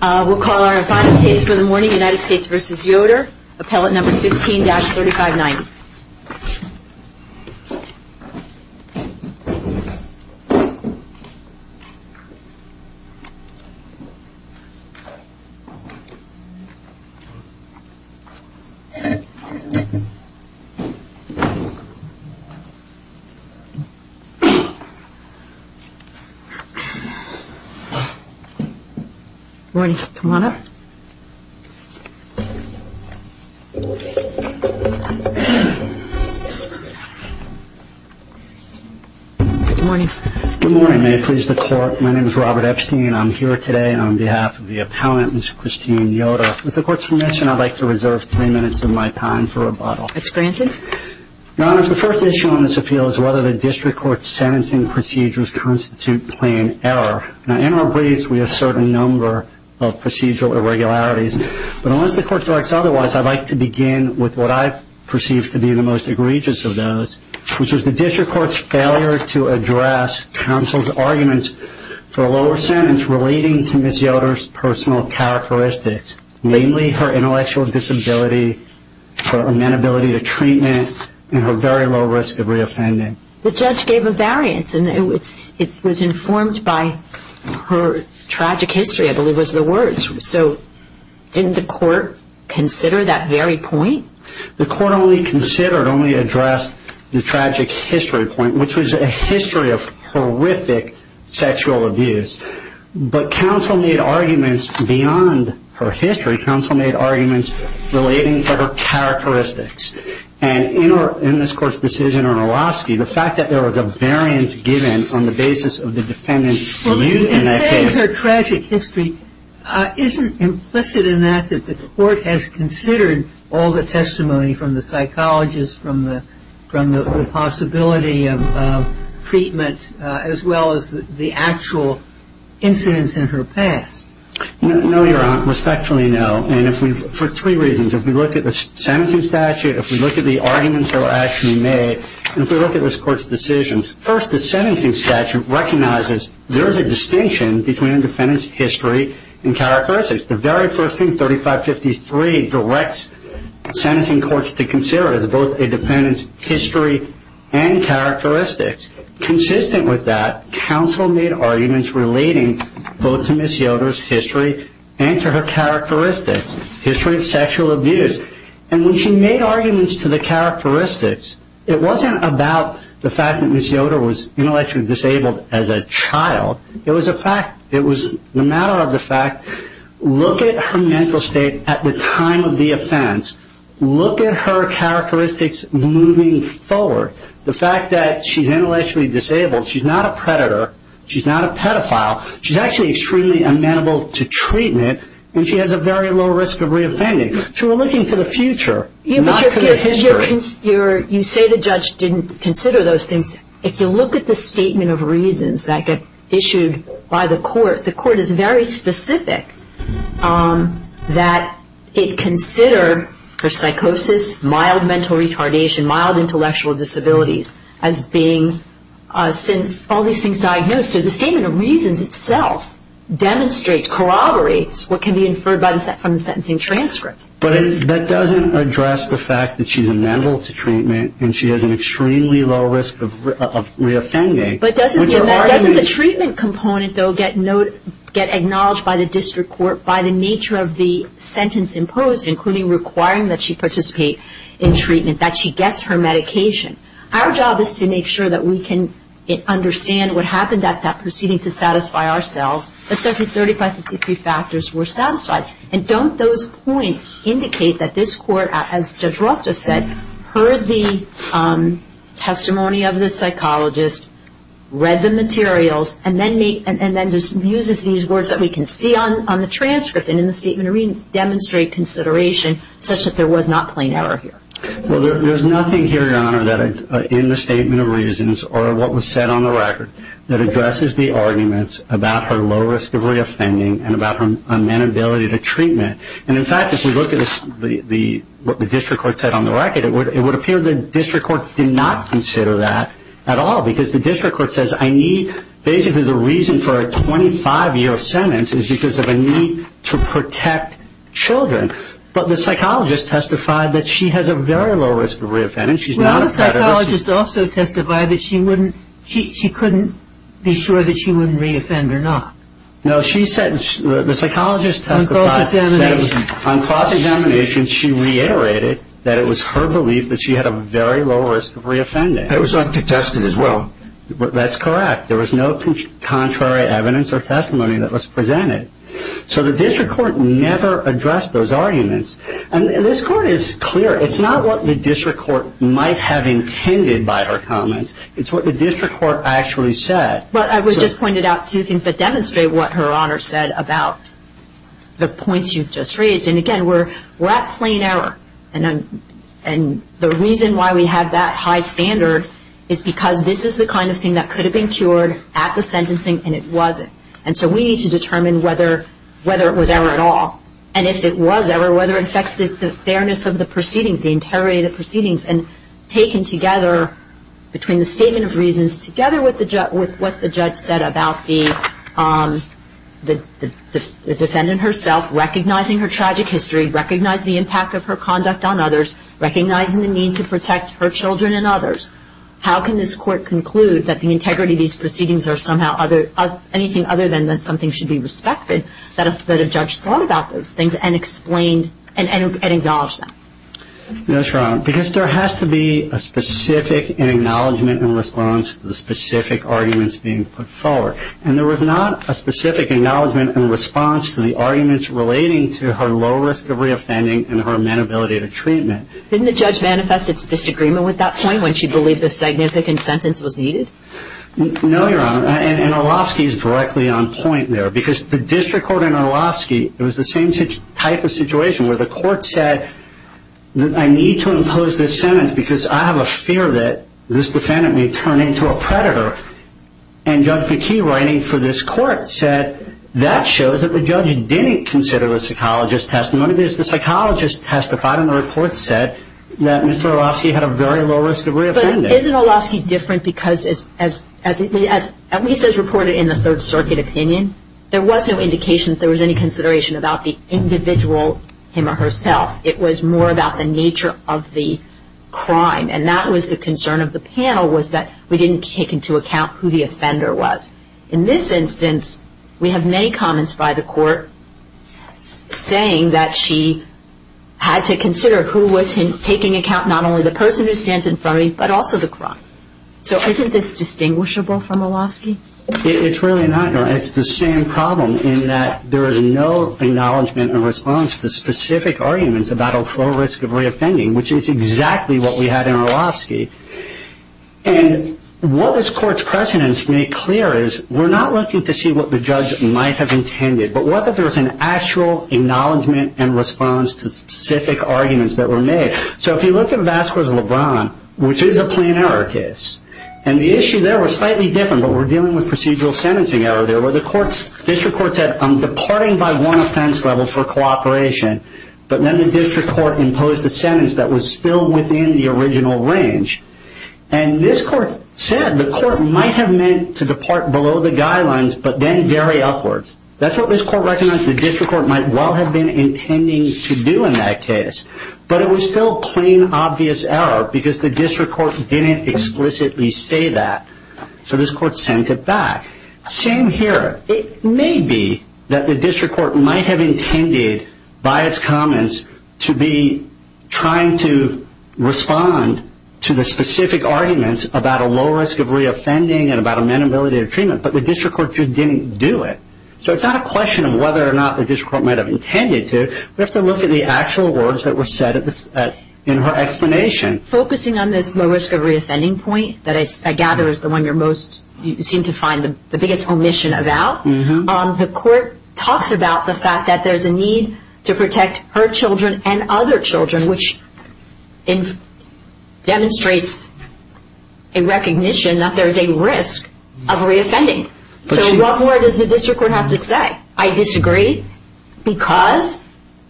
We'll call our final case for the morning, United States v. Yoder, appellate number 15-3590. Good morning, may it please the court, my name is Robert Epstein and I'm here today on behalf of the appellant, Ms. Christine Yoder. With the court's permission, I'd like to reserve three minutes of my time for rebuttal. It's granted. Your Honor, the first issue on this appeal is whether the district court's sentencing procedures constitute plain error. In our briefs, we assert a number of procedural irregularities. But unless the court directs otherwise, I'd like to begin with what I perceive to be the most egregious of those, which is the district court's failure to address counsel's arguments for a lower sentence relating to Ms. Yoder's personal characteristics, namely her intellectual disability, her amenability to treatment, and her very low risk of reoffending. The judge gave a variance and it was informed by her tragic history, I believe was the words. So didn't the court consider that very point? The court only considered, only addressed the tragic history point, which was a history of horrific sexual abuse. But counsel made arguments beyond her history. Counsel made arguments relating to her characteristics. And in this court's decision on Orlovsky, the fact that there was a variance given on the basis of the defendant's view in that case. Well, in saying her tragic history, isn't implicit in that that the court has considered all the testimony from the psychologist, from the possibility of treatment, as well as the actual incidents in her past? No, Your Honor. Respectfully, no. For three reasons. If we look at the sentencing statute, if we look at the arguments that were actually made, and if we look at this court's decisions. First, the sentencing statute recognizes there is a distinction between a defendant's history and characteristics. The very first thing, 3553, directs sentencing courts to consider as both a defendant's history and characteristics. Consistent with that, counsel made arguments relating both to Ms. Yoder's history and to her characteristics. History of sexual abuse. And when she made arguments to the characteristics, it wasn't about the fact that Ms. Yoder was intellectually disabled as a child. It was a fact. It was a matter of the fact. Look at her mental state at the time of the offense. Look at her characteristics moving forward. The fact that she's intellectually disabled, she's not a predator, she's not a pedophile. She's actually extremely amenable to treatment, and she has a very low risk of reoffending. So we're looking to the future, not to the history. You say the judge didn't consider those things. If you look at the statement of reasons that get issued by the court, the court is very specific that it considered her psychosis, mild mental retardation, mild intellectual disabilities as being all these things diagnosed. So the statement of reasons itself demonstrates, corroborates what can be inferred from the sentencing transcript. But that doesn't address the fact that she's amenable to treatment and she has an extremely low risk of reoffending. But doesn't the treatment component, though, get acknowledged by the district court by the nature of the sentence imposed, including requiring that she participate in treatment, that she gets her medication? Our job is to make sure that we can understand what happened at that proceeding to satisfy ourselves, that 30, 35, 53 factors were satisfied. And don't those points indicate that this court, as Judge Roth just said, heard the testimony of the psychologist, read the materials, and then uses these words that we can see on the transcript and in the statement of reasons to demonstrate consideration such that there was not plain error here? Well, there's nothing here, Your Honor, in the statement of reasons or what was said on the record that addresses the arguments about her low risk of reoffending and about her amenability to treatment. And, in fact, if you look at what the district court said on the record, it would appear the district court did not consider that at all because the district court says, basically the reason for a 25-year sentence is because of a need to protect children. But the psychologist testified that she has a very low risk of reoffending. Well, the psychologist also testified that she couldn't be sure that she wouldn't reoffend or not. No, the psychologist testified that on cross-examination she reiterated that it was her belief that she had a very low risk of reoffending. It was uncontested as well. That's correct. There was no contrary evidence or testimony that was presented. So the district court never addressed those arguments. And this Court is clear. It's not what the district court might have intended by her comments. It's what the district court actually said. But I just pointed out two things that demonstrate what Her Honor said about the points you've just raised. And, again, we're at plain error. And the reason why we have that high standard is because this is the kind of thing that could have been cured at the sentencing, and it wasn't. And so we need to determine whether it was error at all. And if it was error, whether it affects the fairness of the proceedings, the integrity of the proceedings. And taken together between the statement of reasons together with what the judge said about the defendant herself recognizing her tragic history, recognizing the impact of her conduct on others, recognizing the need to protect her children and others, how can this Court conclude that the integrity of these proceedings are somehow anything other than that something should be respected, that a judge thought about those things and explained and acknowledged them? That's right. Because there has to be a specific acknowledgment in response to the specific arguments being put forward. And there was not a specific acknowledgment in response to the arguments relating to her low risk of reoffending and her amenability to treatment. Didn't the judge manifest its disagreement with that point when she believed a significant sentence was needed? No, Your Honor. And Orlovsky is directly on point there. Because the district court in Orlovsky, it was the same type of situation where the court said, I need to impose this sentence because I have a fear that this defendant may turn into a predator. And Judge McKee writing for this Court said that shows that the judge didn't consider the psychologist's testimony. The psychologist testified in the report said that Mr. Orlovsky had a very low risk of reoffending. But isn't Orlovsky different because, at least as reported in the Third Circuit opinion, there was no indication that there was any consideration about the individual, him or herself. It was more about the nature of the crime. And that was the concern of the panel was that we didn't take into account who the offender was. In this instance, we have many comments by the court saying that she had to consider who was taking account, not only the person who stands in front of me, but also the crime. So isn't this distinguishable from Orlovsky? It's really not, Your Honor. It's the same problem in that there is no acknowledgment in response to specific arguments about her low risk of reoffending, which is exactly what we had in Orlovsky. And what this Court's precedents make clear is we're not looking to see what the judge might have intended, but what if there was an actual acknowledgment in response to specific arguments that were made. So if you look at Vasquez-Lebron, which is a plain error case, and the issue there was slightly different, but we're dealing with procedural sentencing error there, where the District Court said I'm departing by one offense level for cooperation, but then the District Court imposed a sentence that was still within the original range. And this Court said the Court might have meant to depart below the guidelines, but then very upwards. That's what this Court recognized the District Court might well have been intending to do in that case, but it was still plain, obvious error because the District Court didn't explicitly say that, so this Court sent it back. Same here. It may be that the District Court might have intended, by its comments, to be trying to respond to the specific arguments about a low risk of reoffending and about amenability of treatment, but the District Court just didn't do it. So it's not a question of whether or not the District Court might have intended to. We have to look at the actual words that were said in her explanation. Focusing on this low risk of reoffending point that I gather is the one you seem to find the biggest omission about, the Court talks about the fact that there's a need to protect her children and other children, which demonstrates a recognition that there's a risk of reoffending. So what more does the District Court have to say? I disagree because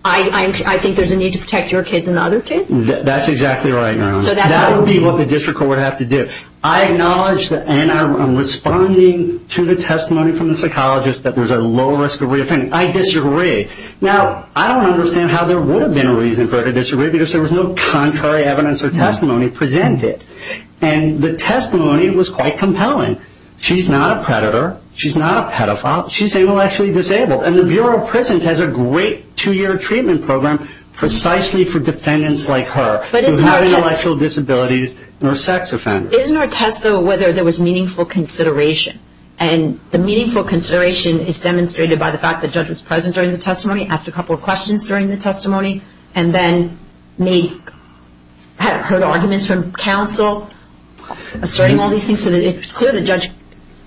I think there's a need to protect your kids and other kids? That's exactly right. That would be what the District Court would have to do. I acknowledge and I'm responding to the testimony from the psychologist that there's a low risk of reoffending. I disagree. Now, I don't understand how there would have been a reason for her to disagree because there was no contrary evidence or testimony presented, and the testimony was quite compelling. She's not a predator. She's not a pedophile. She's able, actually disabled, and the Bureau of Prisons has a great two-year treatment program precisely for defendants like her who have no intellectual disabilities nor sex offenders. Isn't there a test of whether there was meaningful consideration? And the meaningful consideration is demonstrated by the fact that the judge was present during the testimony, asked a couple of questions during the testimony, and then heard arguments from counsel asserting all these things so that it was clear the judge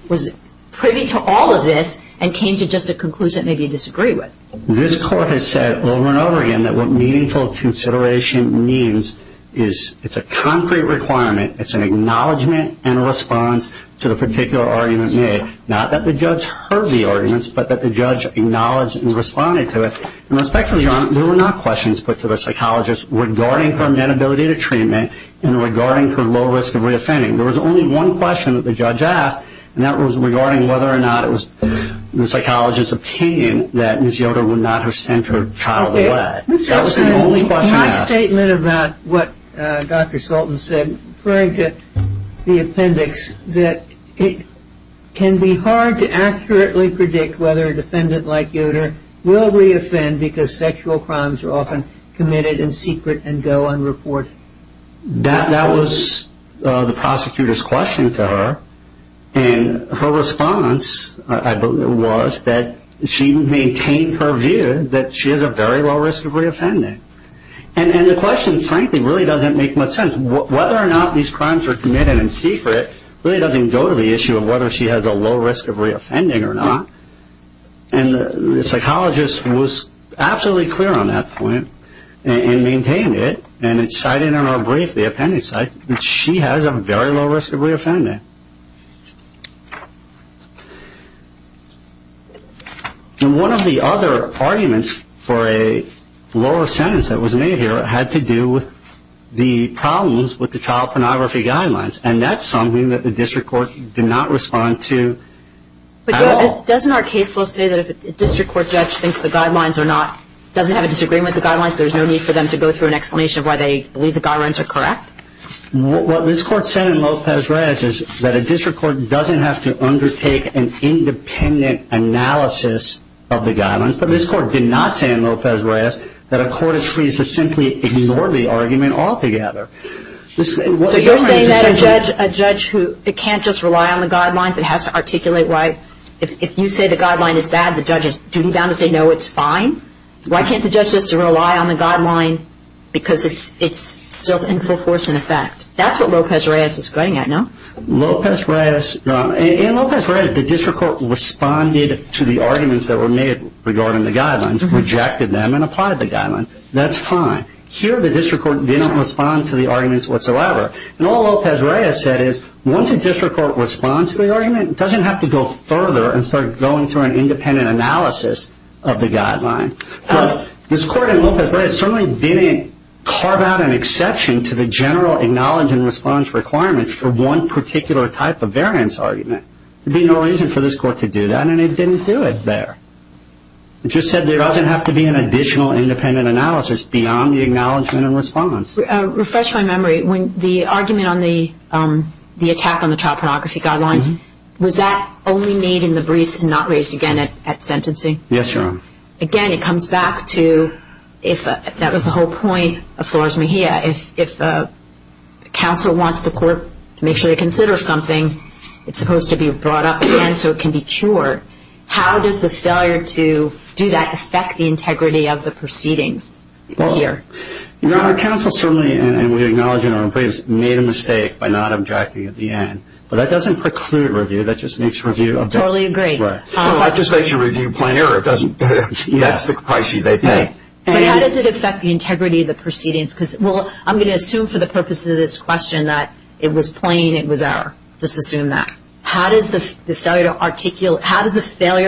was privy to all of this and came to just a conclusion that maybe he disagreed with. This court has said over and over again that what meaningful consideration means is it's a concrete requirement. It's an acknowledgment and a response to the particular argument made, not that the judge heard the arguments but that the judge acknowledged and responded to it. And respectfully, Your Honor, there were not questions put to the psychologist regarding her inability to treatment and regarding her low risk of reoffending. There was only one question that the judge asked, and that was regarding whether or not it was the psychologist's opinion that Ms. Yoder would not have sent her child away. That was the only question asked. My statement about what Dr. Sultan said, referring to the appendix, that it can be hard to accurately predict whether a defendant like Yoder will reoffend because sexual crimes are often committed in secret and go unreported. That was the prosecutor's question to her, and her response was that she maintained her view that she has a very low risk of reoffending. And the question, frankly, really doesn't make much sense. Whether or not these crimes are committed in secret really doesn't go to the issue of whether she has a low risk of reoffending or not. And the psychologist was absolutely clear on that point and maintained it, and it's cited in our brief, the appendix, that she has a very low risk of reoffending. One of the other arguments for a lower sentence that was made here had to do with the problems with the child pornography guidelines, and that's something that the district court did not respond to at all. But doesn't our case law say that if a district court judge thinks the guidelines are not, doesn't have a disagreement with the guidelines, there's no need for them to go through an explanation of why they believe the guidelines are correct? What this court said in Lopez-Reyes is that a district court doesn't have to undertake an independent analysis of the guidelines, but this court did not say in Lopez-Reyes that a court is free to simply ignore the argument altogether. So you're saying that a judge who can't just rely on the guidelines and has to articulate why, if you say the guideline is bad, the judge is duty-bound to say no, it's fine? Why can't the judge just rely on the guideline because it's still in full force in effect? That's what Lopez-Reyes is getting at, no? In Lopez-Reyes, the district court responded to the arguments that were made regarding the guidelines, rejected them, and applied the guidelines. That's fine. Here the district court did not respond to the arguments whatsoever. And all Lopez-Reyes said is once a district court responds to the argument, it doesn't have to go further and start going through an independent analysis of the guidelines. But this court in Lopez-Reyes certainly didn't carve out an exception to the general acknowledge and response requirements for one particular type of variance argument. There would be no reason for this court to do that, and it didn't do it there. It just said there doesn't have to be an additional independent analysis beyond the acknowledgement and response. Refresh my memory. When the argument on the attack on the child pornography guidelines, was that only made in the briefs and not raised again at sentencing? Yes, Your Honor. Again, it comes back to if that was the whole point of Flores-Mejia. If counsel wants the court to make sure they consider something, it's supposed to be brought up again so it can be cured. How does the failure to do that affect the integrity of the proceedings here? Your Honor, counsel certainly, and we acknowledge in our briefs, made a mistake by not objecting at the end. But that doesn't preclude review. That just makes review a better. I totally agree. No, that just makes your review plain error. That's the price you pay. But how does it affect the integrity of the proceedings? Well, I'm going to assume for the purpose of this question that it was plain, it was error. Let's assume that. How does the failure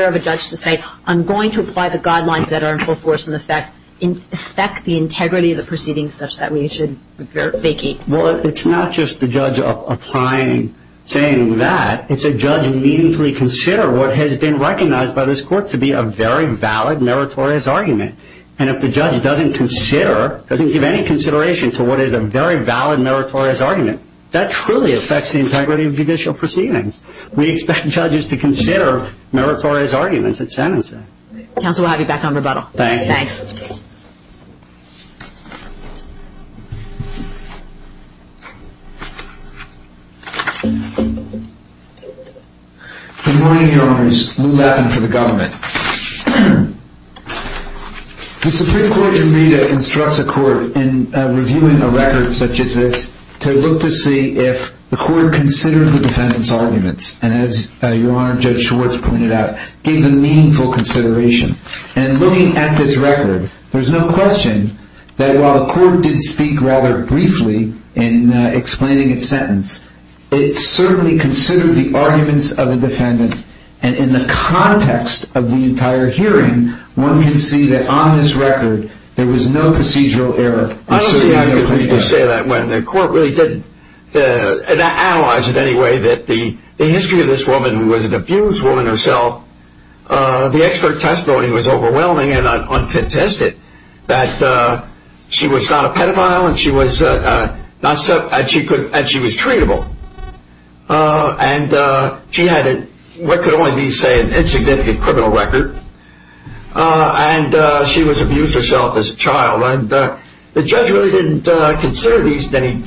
of a judge to say, I'm going to apply the guidelines that are in full force and affect the integrity of the proceedings such that we should vacate? Well, it's not just the judge applying, saying that. It's a judge meaningfully consider what has been recognized by this court to be a very valid meritorious argument. And if the judge doesn't consider, doesn't give any consideration to what is a very valid meritorious argument, that truly affects the integrity of judicial proceedings. We expect judges to consider meritorious arguments at sentencing. Counsel, we'll have you back on rebuttal. Thank you. Thanks. Good morning, Your Honors. Lew Levin for the government. The Supreme Court in Meda instructs a court in reviewing a record such as this to look to see if the court considered the defendant's arguments. And as Your Honor, Judge Schwartz pointed out, gave them meaningful consideration. And looking at this record, there's no question that while the court did speak rather briefly in explaining its sentence, it certainly considered the arguments of a defendant. And in the context of the entire hearing, one can see that on this record there was no procedural error. I don't see how you can say that when the court really did analyze it in any way that the history of this woman was an abused woman herself. The expert testimony was overwhelming and uncontested, that she was not a pedophile and she was treatable. And she had what could only be, say, an insignificant criminal record. And she was abused herself as a child. And the judge really didn't consider these any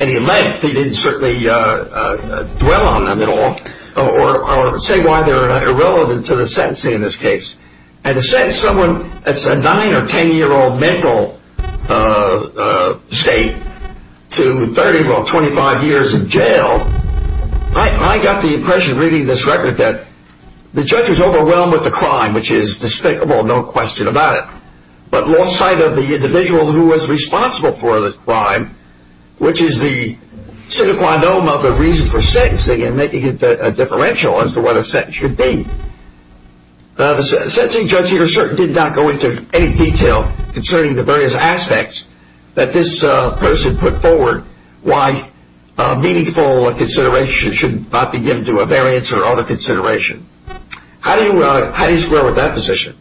length. He didn't certainly dwell on them at all. Or say why they're irrelevant to the sentencing in this case. And to sentence someone that's a 9 or 10-year-old mental state to 30, well, 25 years in jail, I got the impression reading this record that the judge was overwhelmed with the crime, which is despicable, no question about it. But lost sight of the individual who was responsible for the crime, which is the sine qua non of the reason for sentencing and making it a differential as to what a sentence should be. The sentencing judge here certainly did not go into any detail concerning the various aspects that this person put forward, why meaningful consideration should not be given to a variance or other consideration. How do you square with that position?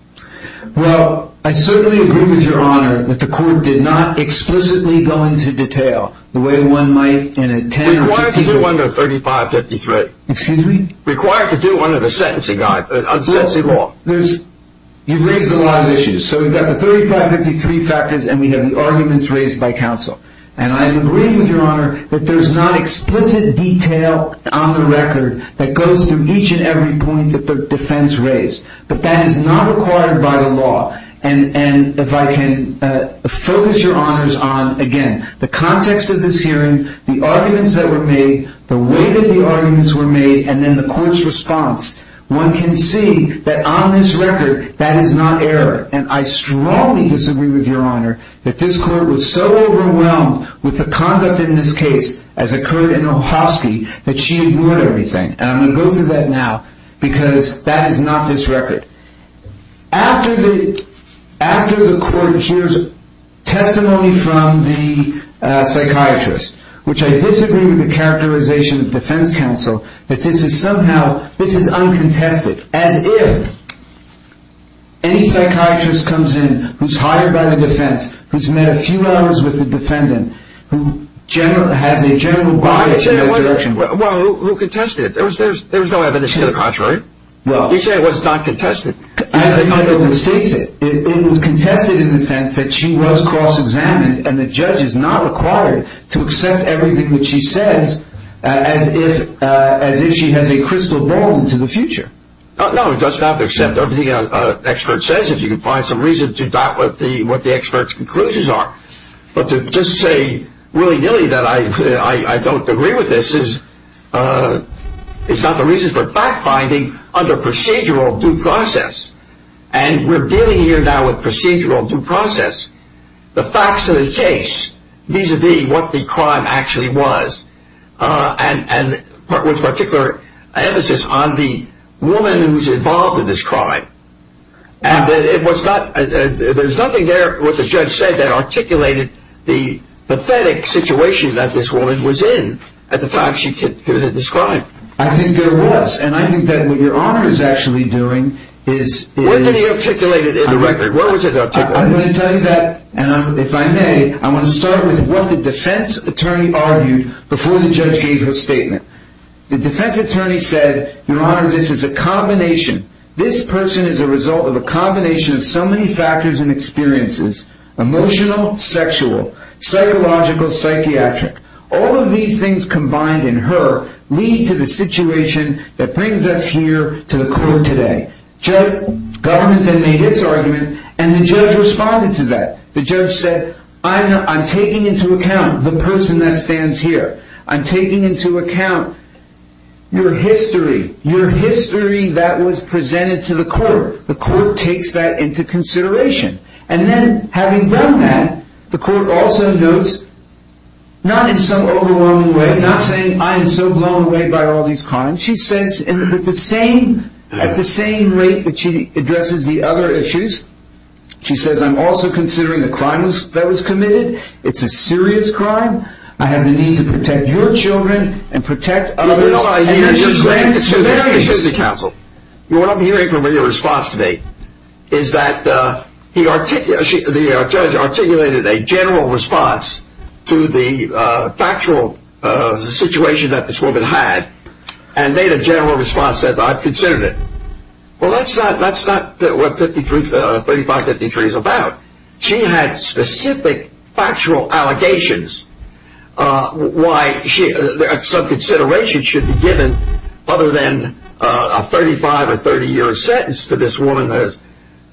Well, I certainly agree with Your Honor that the court did not explicitly go into detail the way one might in a 10 or 15 year... Required to do under 3553. Excuse me? Required to do under the sentencing law. You've raised a lot of issues. So we've got the 3553 factors and we have the arguments raised by counsel. And I agree with Your Honor that there's not explicit detail on the record that goes through each and every point that the defense raised. But that is not required by the law. And if I can focus Your Honors on, again, the context of this hearing, the arguments that were made, the way that the arguments were made, and then the court's response. One can see that on this record, that is not error. And I strongly disagree with Your Honor that this court was so overwhelmed with the conduct in this case, as occurred in Ohovsky, that she ignored everything. And I'm going to go through that now because that is not this record. After the court hears testimony from the psychiatrist, which I disagree with the characterization of the defense counsel, that this is somehow uncontested. As if any psychiatrist comes in who's hired by the defense, who's met a few hours with the defendant, who has a general bias in their direction. Well, who contested it? There was no evidence to the contrary. You say it was not contested. I have the record that states it. It was contested in the sense that she was cross-examined, and the judge is not required to accept everything that she says as if she has a crystal ball into the future. No, it does not accept everything an expert says, if you can find some reason to doubt what the expert's conclusions are. But to just say willy-nilly that I don't agree with this is not the reason for fact-finding under procedural due process. And we're dealing here now with procedural due process. The facts of the case, vis-a-vis what the crime actually was, and with particular emphasis on the woman who's involved in this crime. And there's nothing there, what the judge said, that articulated the pathetic situation that this woman was in at the time she committed this crime. I think there was, and I think that what Your Honor is actually doing is... When did he articulate it indirectly? Where was it articulated? I'm going to tell you that, and if I may, I want to start with what the defense attorney argued before the judge gave his statement. The defense attorney said, Your Honor, this is a combination. This person is a result of a combination of so many factors and experiences. Emotional, sexual, psychological, psychiatric. All of these things combined in her lead to the situation that brings us here to the court today. The government then made its argument, and the judge responded to that. The judge said, I'm taking into account the person that stands here. I'm taking into account your history. Your history that was presented to the court. The court takes that into consideration. And then, having done that, the court also notes, not in some overwhelming way, not saying, I am so blown away by all these crimes. She says, at the same rate that she addresses the other issues, she says, I'm also considering the crime that was committed. It's a serious crime. I have a need to protect your children and protect others. So there is the counsel. What I'm hearing from your response today is that the judge articulated a general response to the factual situation that this woman had and made a general response that I've considered it. Well, that's not what 3553 is about. She had specific factual allegations. Why some consideration should be given other than a 35 or 30-year sentence for this woman that is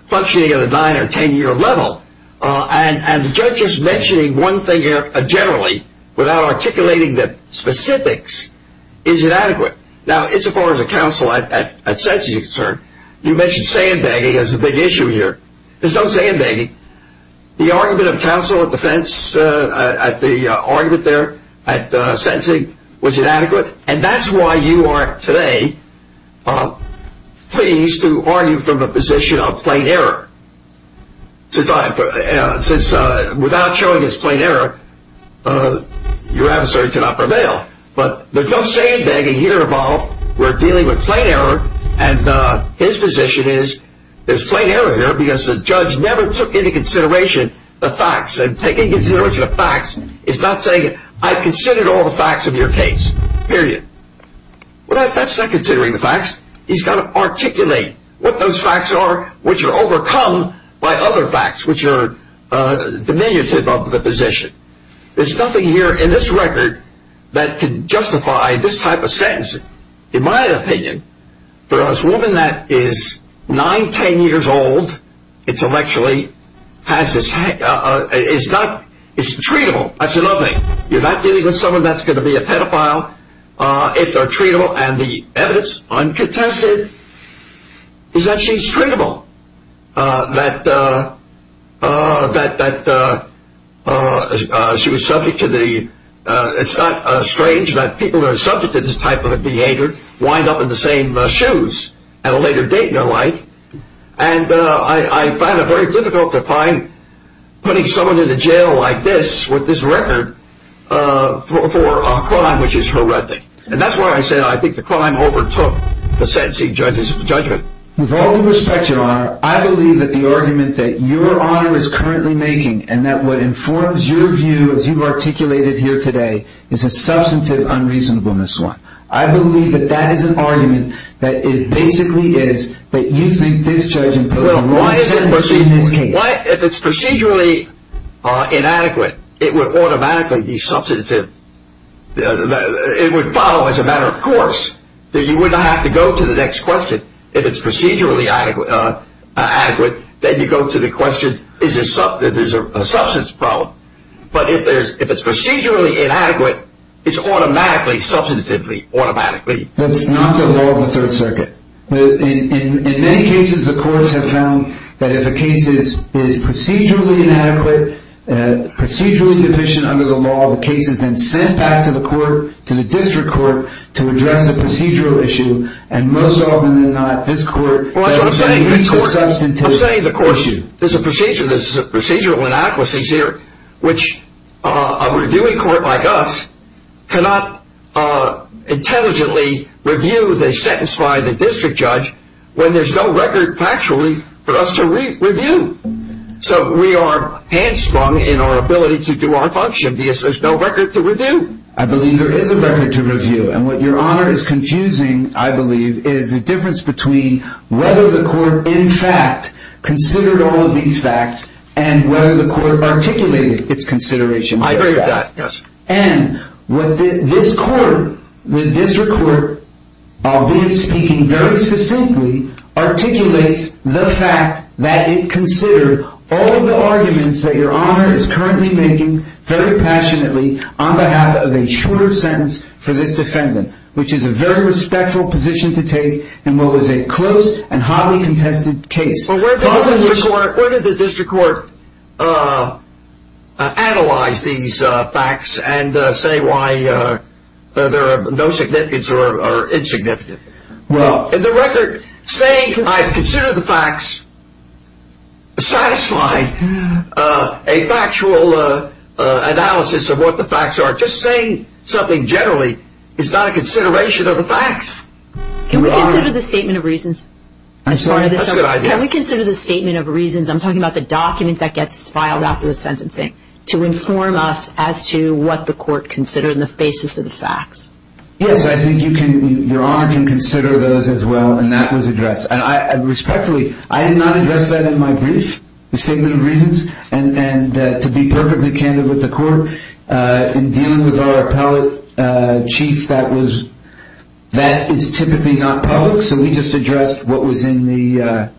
functioning at a 9- or 10-year level. And the judge just mentioning one thing here generally, without articulating the specifics, is inadequate. Now, as far as the counsel at sentencing is concerned, you mentioned sandbagging as a big issue here. There's no sandbagging. The argument of counsel at defense, at the argument there at sentencing, was inadequate, and that's why you are today pleased to argue from a position of plain error. Since without showing it's plain error, your adversary cannot prevail. But there's no sandbagging here at all. We're dealing with plain error, and his position is there's plain error here because the judge never took into consideration the facts. And taking into consideration the facts is not saying, I've considered all the facts of your case, period. Well, that's not considering the facts. He's got to articulate what those facts are, which are overcome by other facts, which are diminutive of the position. There's nothing here in this record that can justify this type of sentencing. In my opinion, for a woman that is nine, ten years old, intellectually, it's treatable, that's another thing. You're not dealing with someone that's going to be a pedophile. If they're treatable and the evidence uncontested is that she's treatable, that she was subject to the, it's not strange that people who are subject to this type of behavior wind up in the same shoes at a later date in their life. And I find it very difficult to find putting someone into jail like this, with this record, for a crime which is horrific. And that's why I said I think the crime overtook the sentencing judgment. With all due respect, your honor, I believe that the argument that your honor is currently making and that what informs your view, as you've articulated here today, is a substantive unreasonableness one. I believe that that is an argument that it basically is that you think this judge imposed a wrong sentencing in this case. If it's procedurally inadequate, it would automatically be substantive. It would follow as a matter of course that you wouldn't have to go to the next question. If it's procedurally adequate, then you go to the question, is there a substance problem? But if it's procedurally inadequate, it's automatically substantively automatically. That's not the law of the Third Circuit. In many cases, the courts have found that if a case is procedurally inadequate, procedurally deficient under the law, the case is then sent back to the court, to the district court, to address a procedural issue. And most often than not, this court meets the substantive issue. There's a procedural inadequacy here, which a reviewing court like us cannot intelligently review the sentence by the district judge when there's no record factually for us to review. So we are handsprung in our ability to do our function because there's no record to review. I believe there is a record to review. And what Your Honor is confusing, I believe, is the difference between whether the court in fact considered all of these facts and whether the court articulated its consideration of these facts. I agree with that, yes. And what this court, the district court, albeit speaking very succinctly, articulates the fact that it considered all of the arguments that Your Honor is currently making very passionately on behalf of a shorter sentence for this defendant, which is a very respectful position to take in what was a close and hotly contested case. But where did the district court analyze these facts and say why there are no significance or insignificant? In the record, saying I've considered the facts satisfied a factual analysis of what the facts are. Just saying something generally is not a consideration of the facts. Can we consider the statement of reasons? I'm sorry, that's a good idea. Can we consider the statement of reasons? I'm talking about the document that gets filed after the sentencing to inform us as to what the court considered and the basis of the facts. Yes, I think Your Honor can consider those as well, and that was addressed. Respectfully, I did not address that in my brief, the statement of reasons, and to be perfectly candid with the court, in dealing with our appellate chief, that is typically not public, so we just addressed what was in the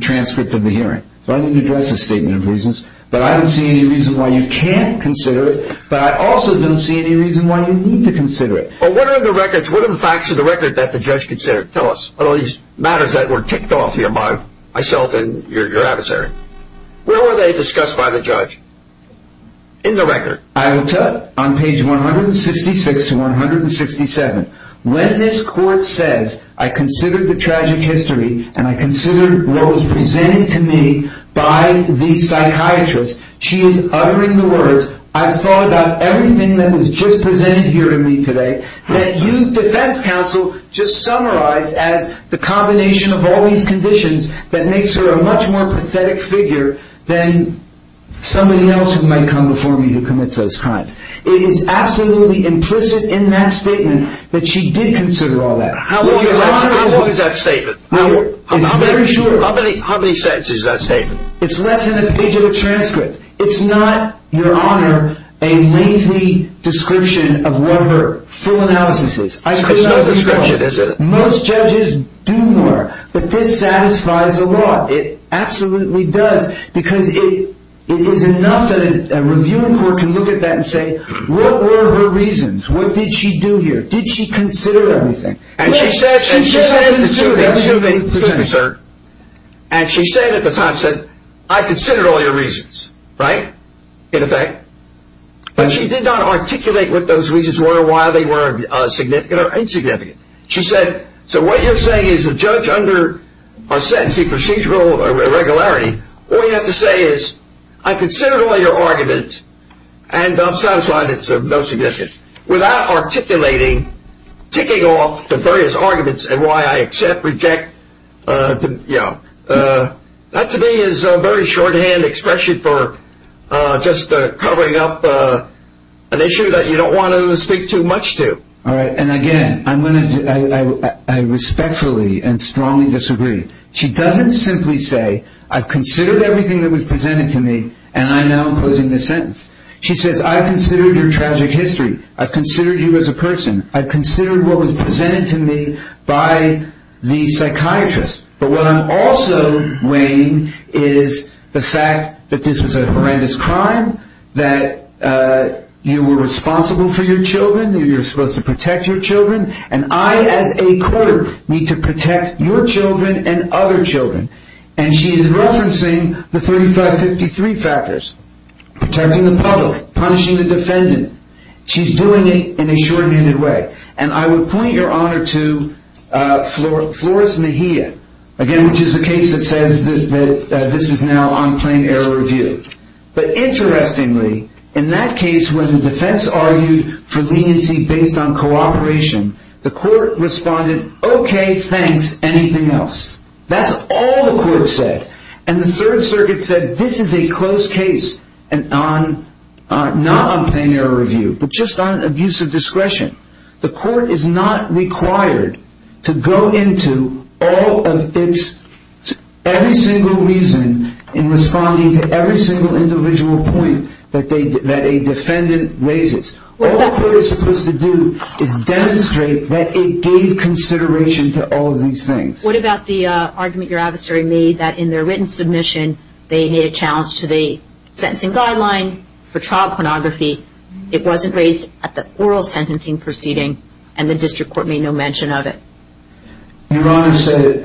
transcript of the hearing. So I didn't address the statement of reasons, but I don't see any reason why you can't consider it, but I also don't see any reason why you need to consider it. Well, what are the records, what are the facts of the record that the judge considered? Tell us. What are these matters that were ticked off here by myself and your adversary? Where were they discussed by the judge? In the record. I will tell you, on page 166 to 167, when this court says, I considered the tragic history, and I considered what was presented to me by the psychiatrist, she is uttering the words, I've thought about everything that was just presented here to me today, that you, defense counsel, just summarized as the combination of all these conditions that makes her a much more pathetic figure than somebody else who might come before me who commits those crimes. It is absolutely implicit in that statement that she did consider all that. How long is that statement? It's very short. How many sentences is that statement? It's less than a page of a transcript. It's not, Your Honor, a lengthy description of what her full analysis is. It's no description, is it? Most judges do more. But this satisfies the law. It absolutely does. Because it is enough that a reviewing court can look at that and say, what were her reasons? What did she do here? Did she consider everything? And she said, Excuse me, sir. And she said at the time, I considered all your reasons, right? In effect. But she did not articulate what those reasons were or why they were significant or insignificant. She said, So what you're saying is the judge under our sentencing procedural irregularity, all you have to say is, I considered all your arguments, and I'm satisfied it's of no significance. Without articulating, ticking off the various arguments and why I accept, reject, you know. That to me is a very shorthand expression for just covering up an issue that you don't want to speak too much to. All right. And again, I respectfully and strongly disagree. She doesn't simply say, I've considered everything that was presented to me, and I'm now imposing this sentence. I've considered your tragic history. I've considered you as a person. I've considered what was presented to me by the psychiatrist. But what I'm also weighing is the fact that this was a horrendous crime, that you were responsible for your children, that you were supposed to protect your children, and I as a court need to protect your children and other children. And she is referencing the 3553 factors. Protecting the public. Punishing the defendant. She's doing it in a short-minded way. And I would point your honor to Flores Mejia. Again, which is a case that says that this is now on plain error review. But interestingly, in that case, when the defense argued for leniency based on cooperation, the court responded, okay, thanks, anything else. That's all the court said. And the Third Circuit said, that this is a close case, not on plain error review, but just on abuse of discretion. The court is not required to go into every single reason in responding to every single individual point that a defendant raises. All the court is supposed to do is demonstrate that it gave consideration to all of these things. What about the argument your adversary made that in their written submission, they made a challenge to the sentencing guideline for trial pornography. It wasn't raised at the oral sentencing proceeding, and the district court made no mention of it. Your honor stated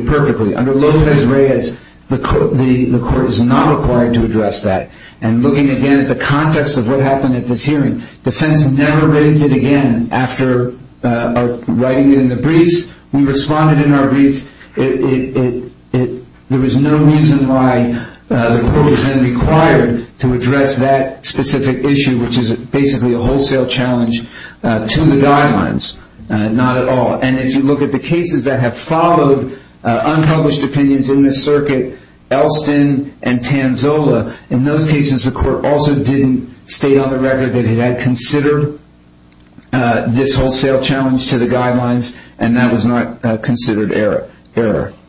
it perfectly. Under Lopez-Reyes, the court is not required to address that. And looking again at the context of what happened at this hearing, defense never raised it again after writing it in the briefs. We responded in our briefs. There was no reason why the court was then required to address that specific issue, which is basically a wholesale challenge to the guidelines. Not at all. And if you look at the cases that have followed unpublished opinions in this circuit, Elston and Tanzola, in those cases the court also didn't state on the record that it had considered this wholesale challenge to the guidelines, and that was not considered error.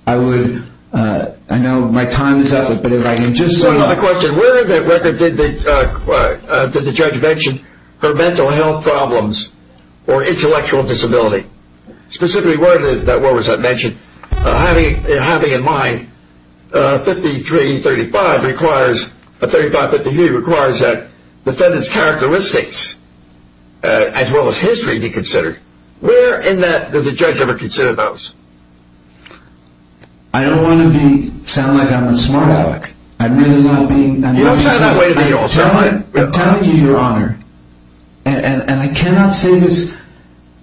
I know my time is up, but if I can just say... One other question. Where in that record did the judge mention her mental health problems or intellectual disability? Specifically, where was that mentioned? Having in mind 53-35 requires that defendant's characteristics as well as history be considered. Where in that did the judge ever consider those? I don't want to sound like I'm a smart aleck. You don't sound that way to me also. I'm telling you, Your Honor, and I cannot say this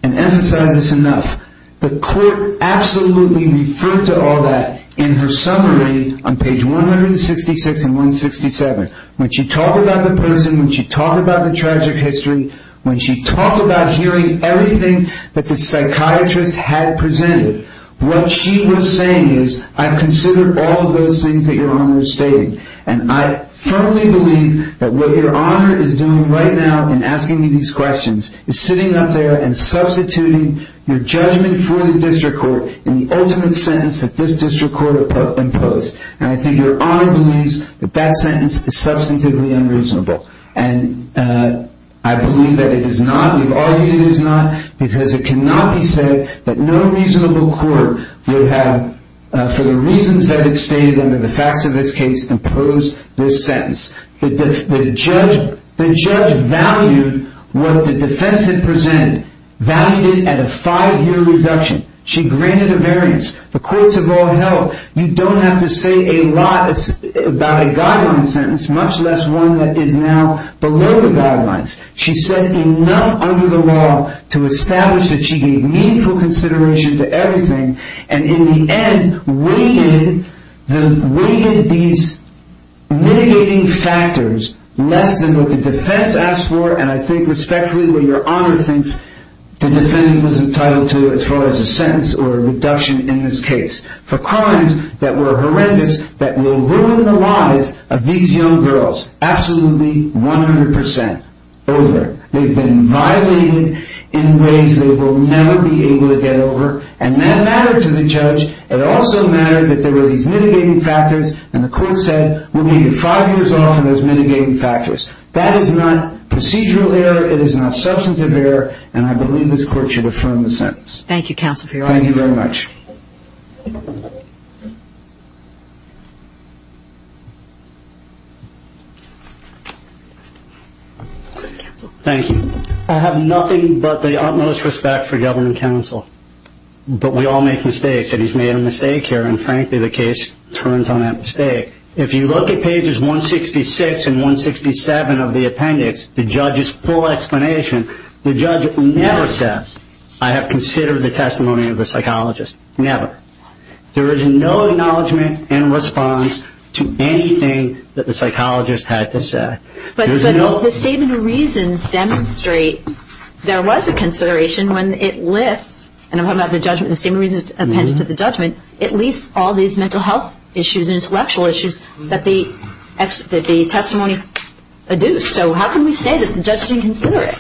and emphasize this enough, the court absolutely referred to all that in her summary on page 166 and 167. When she talked about the person, when she talked about the tragic history, when she talked about hearing everything that the psychiatrist had presented, what she was saying is, I've considered all of those things that Your Honor has stated, and I firmly believe that what Your Honor is doing right now in asking me these questions is sitting up there and substituting your judgment for the district court in the ultimate sentence that this district court imposed, and I think Your Honor believes that that sentence is substantively unreasonable. And I believe that it is not. We've argued it is not, because it cannot be said that no reasonable court would have, for the reasons that it stated under the facts of this case, imposed this sentence. The judge valued what the defense had presented, valued it at a five-year reduction. She granted a variance. The courts have all held. You don't have to say a lot about a guideline sentence, much less one that is now below the guidelines. She said enough under the law to establish that she gave meaningful consideration to everything, and in the end, weighted these mitigating factors less than what the defense asked for, and I think respectfully what Your Honor thinks the defendant was entitled to as far as a sentence or a reduction in this case for crimes that were horrendous, that will ruin the lives of these young girls absolutely 100 percent. Over. They've been violated in ways they will never be able to get over, and that mattered to the judge. It also mattered that there were these mitigating factors, and the court said, we'll give you five years off on those mitigating factors. That is not procedural error. It is not substantive error, and I believe this court should affirm the sentence. Thank you, counsel, for your answer. Thank you very much. Thank you. I have nothing but the utmost respect for government counsel, but we all make mistakes, and he's made a mistake here, and frankly the case turns on that mistake. If you look at pages 166 and 167 of the appendix, the judge's full explanation, the judge never says, I have considered the testimony of the psychologist. Never. There is no acknowledgment and response to anything that the psychologist had to say. But the statement of reasons demonstrate there was a consideration when it lists, and I'm talking about the judgment, the statement of reasons appended to the judgment, it lists all these mental health issues and intellectual issues that the testimony adduced. So how can we say that the judge didn't consider it?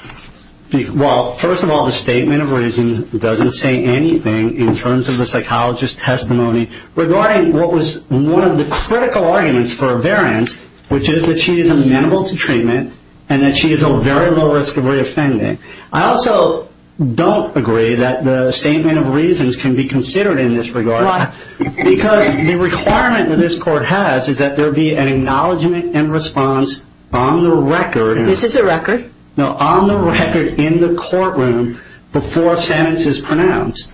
Well, first of all, the statement of reasons doesn't say anything in terms of the psychologist's testimony regarding what was one of the critical arguments for a variance, which is that she is amenable to treatment and that she is at very low risk of reoffending. I also don't agree that the statement of reasons can be considered in this regard because the requirement that this court has is that there be an acknowledgment and response on the record. This is a record? No, on the record in the courtroom before a sentence is pronounced.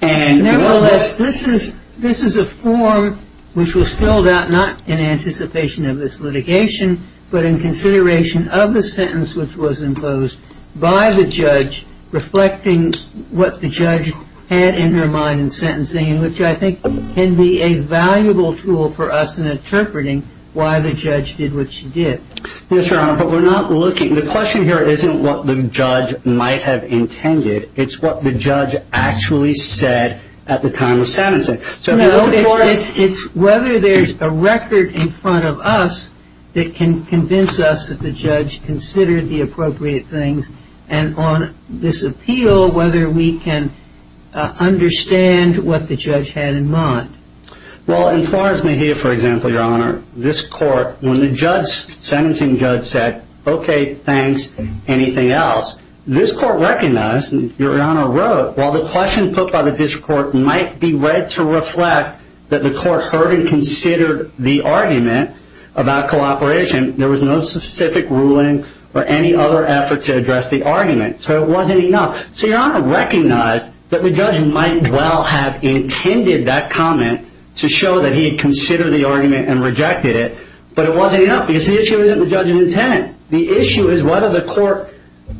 Nevertheless, this is a form which was filled out not in anticipation of this litigation, but in consideration of the sentence which was imposed by the judge reflecting what the judge had in her mind in sentencing, which I think can be a valuable tool for us in interpreting why the judge did what she did. Yes, Your Honor, but we're not looking... The question here isn't what the judge might have intended. It's what the judge actually said at the time of sentencing. No, it's whether there's a record in front of us that can convince us that the judge considered the appropriate things and on this appeal, whether we can understand what the judge had in mind. Well, in Florence Mejia, for example, Your Honor, this court, when the sentencing judge said, OK, thanks, anything else? This court recognized, Your Honor wrote, while the question put by the district court might be read to reflect that the court heard and considered the argument about cooperation, there was no specific ruling or any other effort to address the argument, so it wasn't enough. So Your Honor recognized that the judge might well have intended that comment to show that he had considered the argument and rejected it, but it wasn't enough because the issue isn't the judge's intent. The issue is whether the court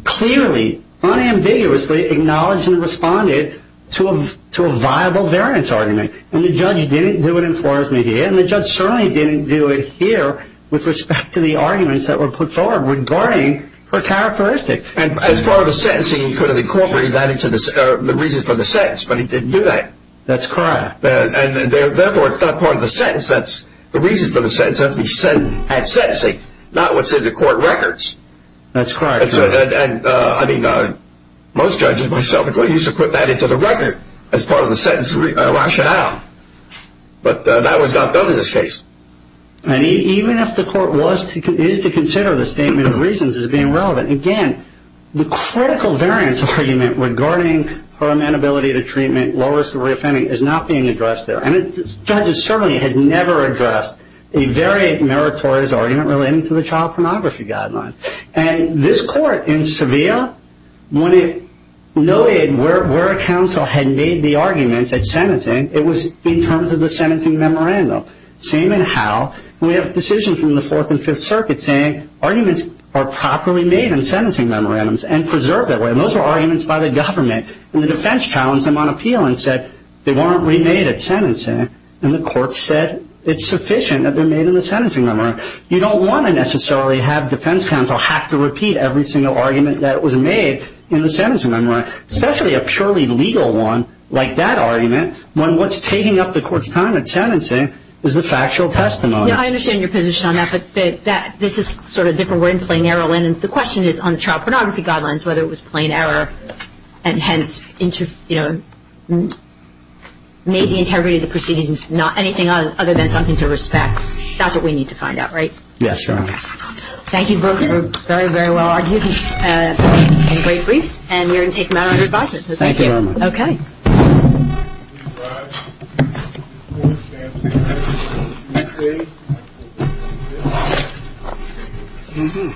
clearly, unambiguously, acknowledged and responded to a viable variance argument, and the judge didn't do it in Florence Mejia, and the judge certainly didn't do it here with respect to the arguments that were put forward regarding her characteristics. As far as the sentencing, he could have incorporated that into the reason for the sentence, but he didn't do that. That's correct. And, therefore, it's not part of the sentence. The reason for the sentence has to be sentencing, not what's in the court records. That's correct. And, I mean, most judges, myself included, used to put that into the record as part of the sentence rationale, but that was not done in this case. And even if the court is to consider the statement of reasons as being relevant, again, the critical variance argument regarding her amenability to treatment, is not being addressed there. And the judge certainly has never addressed a very meritorious argument relating to the child pornography guidelines. And this court in Sevilla, when it noted where a counsel had made the arguments at sentencing, it was in terms of the sentencing memorandum. Same in Howe. We have a decision from the Fourth and Fifth Circuits saying arguments are properly made in sentencing memorandums and preserved that way, and those were arguments by the government, and the defense challenged them on appeal and said, they weren't remade at sentencing, and the court said it's sufficient that they're made in the sentencing memorandum. You don't want to necessarily have defense counsel have to repeat every single argument that was made in the sentencing memorandum, especially a purely legal one like that argument, when what's taking up the court's time at sentencing is the factual testimony. Yeah, I understand your position on that, but this is sort of a different word than plain error. The question is on the child pornography guidelines, whether it was plain error and hence made the integrity of the proceedings not anything other than something to respect. That's what we need to find out, right? Yes, Your Honor. Thank you both for very, very well argued and great briefs, and we're going to take them out under advisement. Thank you very much. Okay. Thank you. Thank you. Thank you.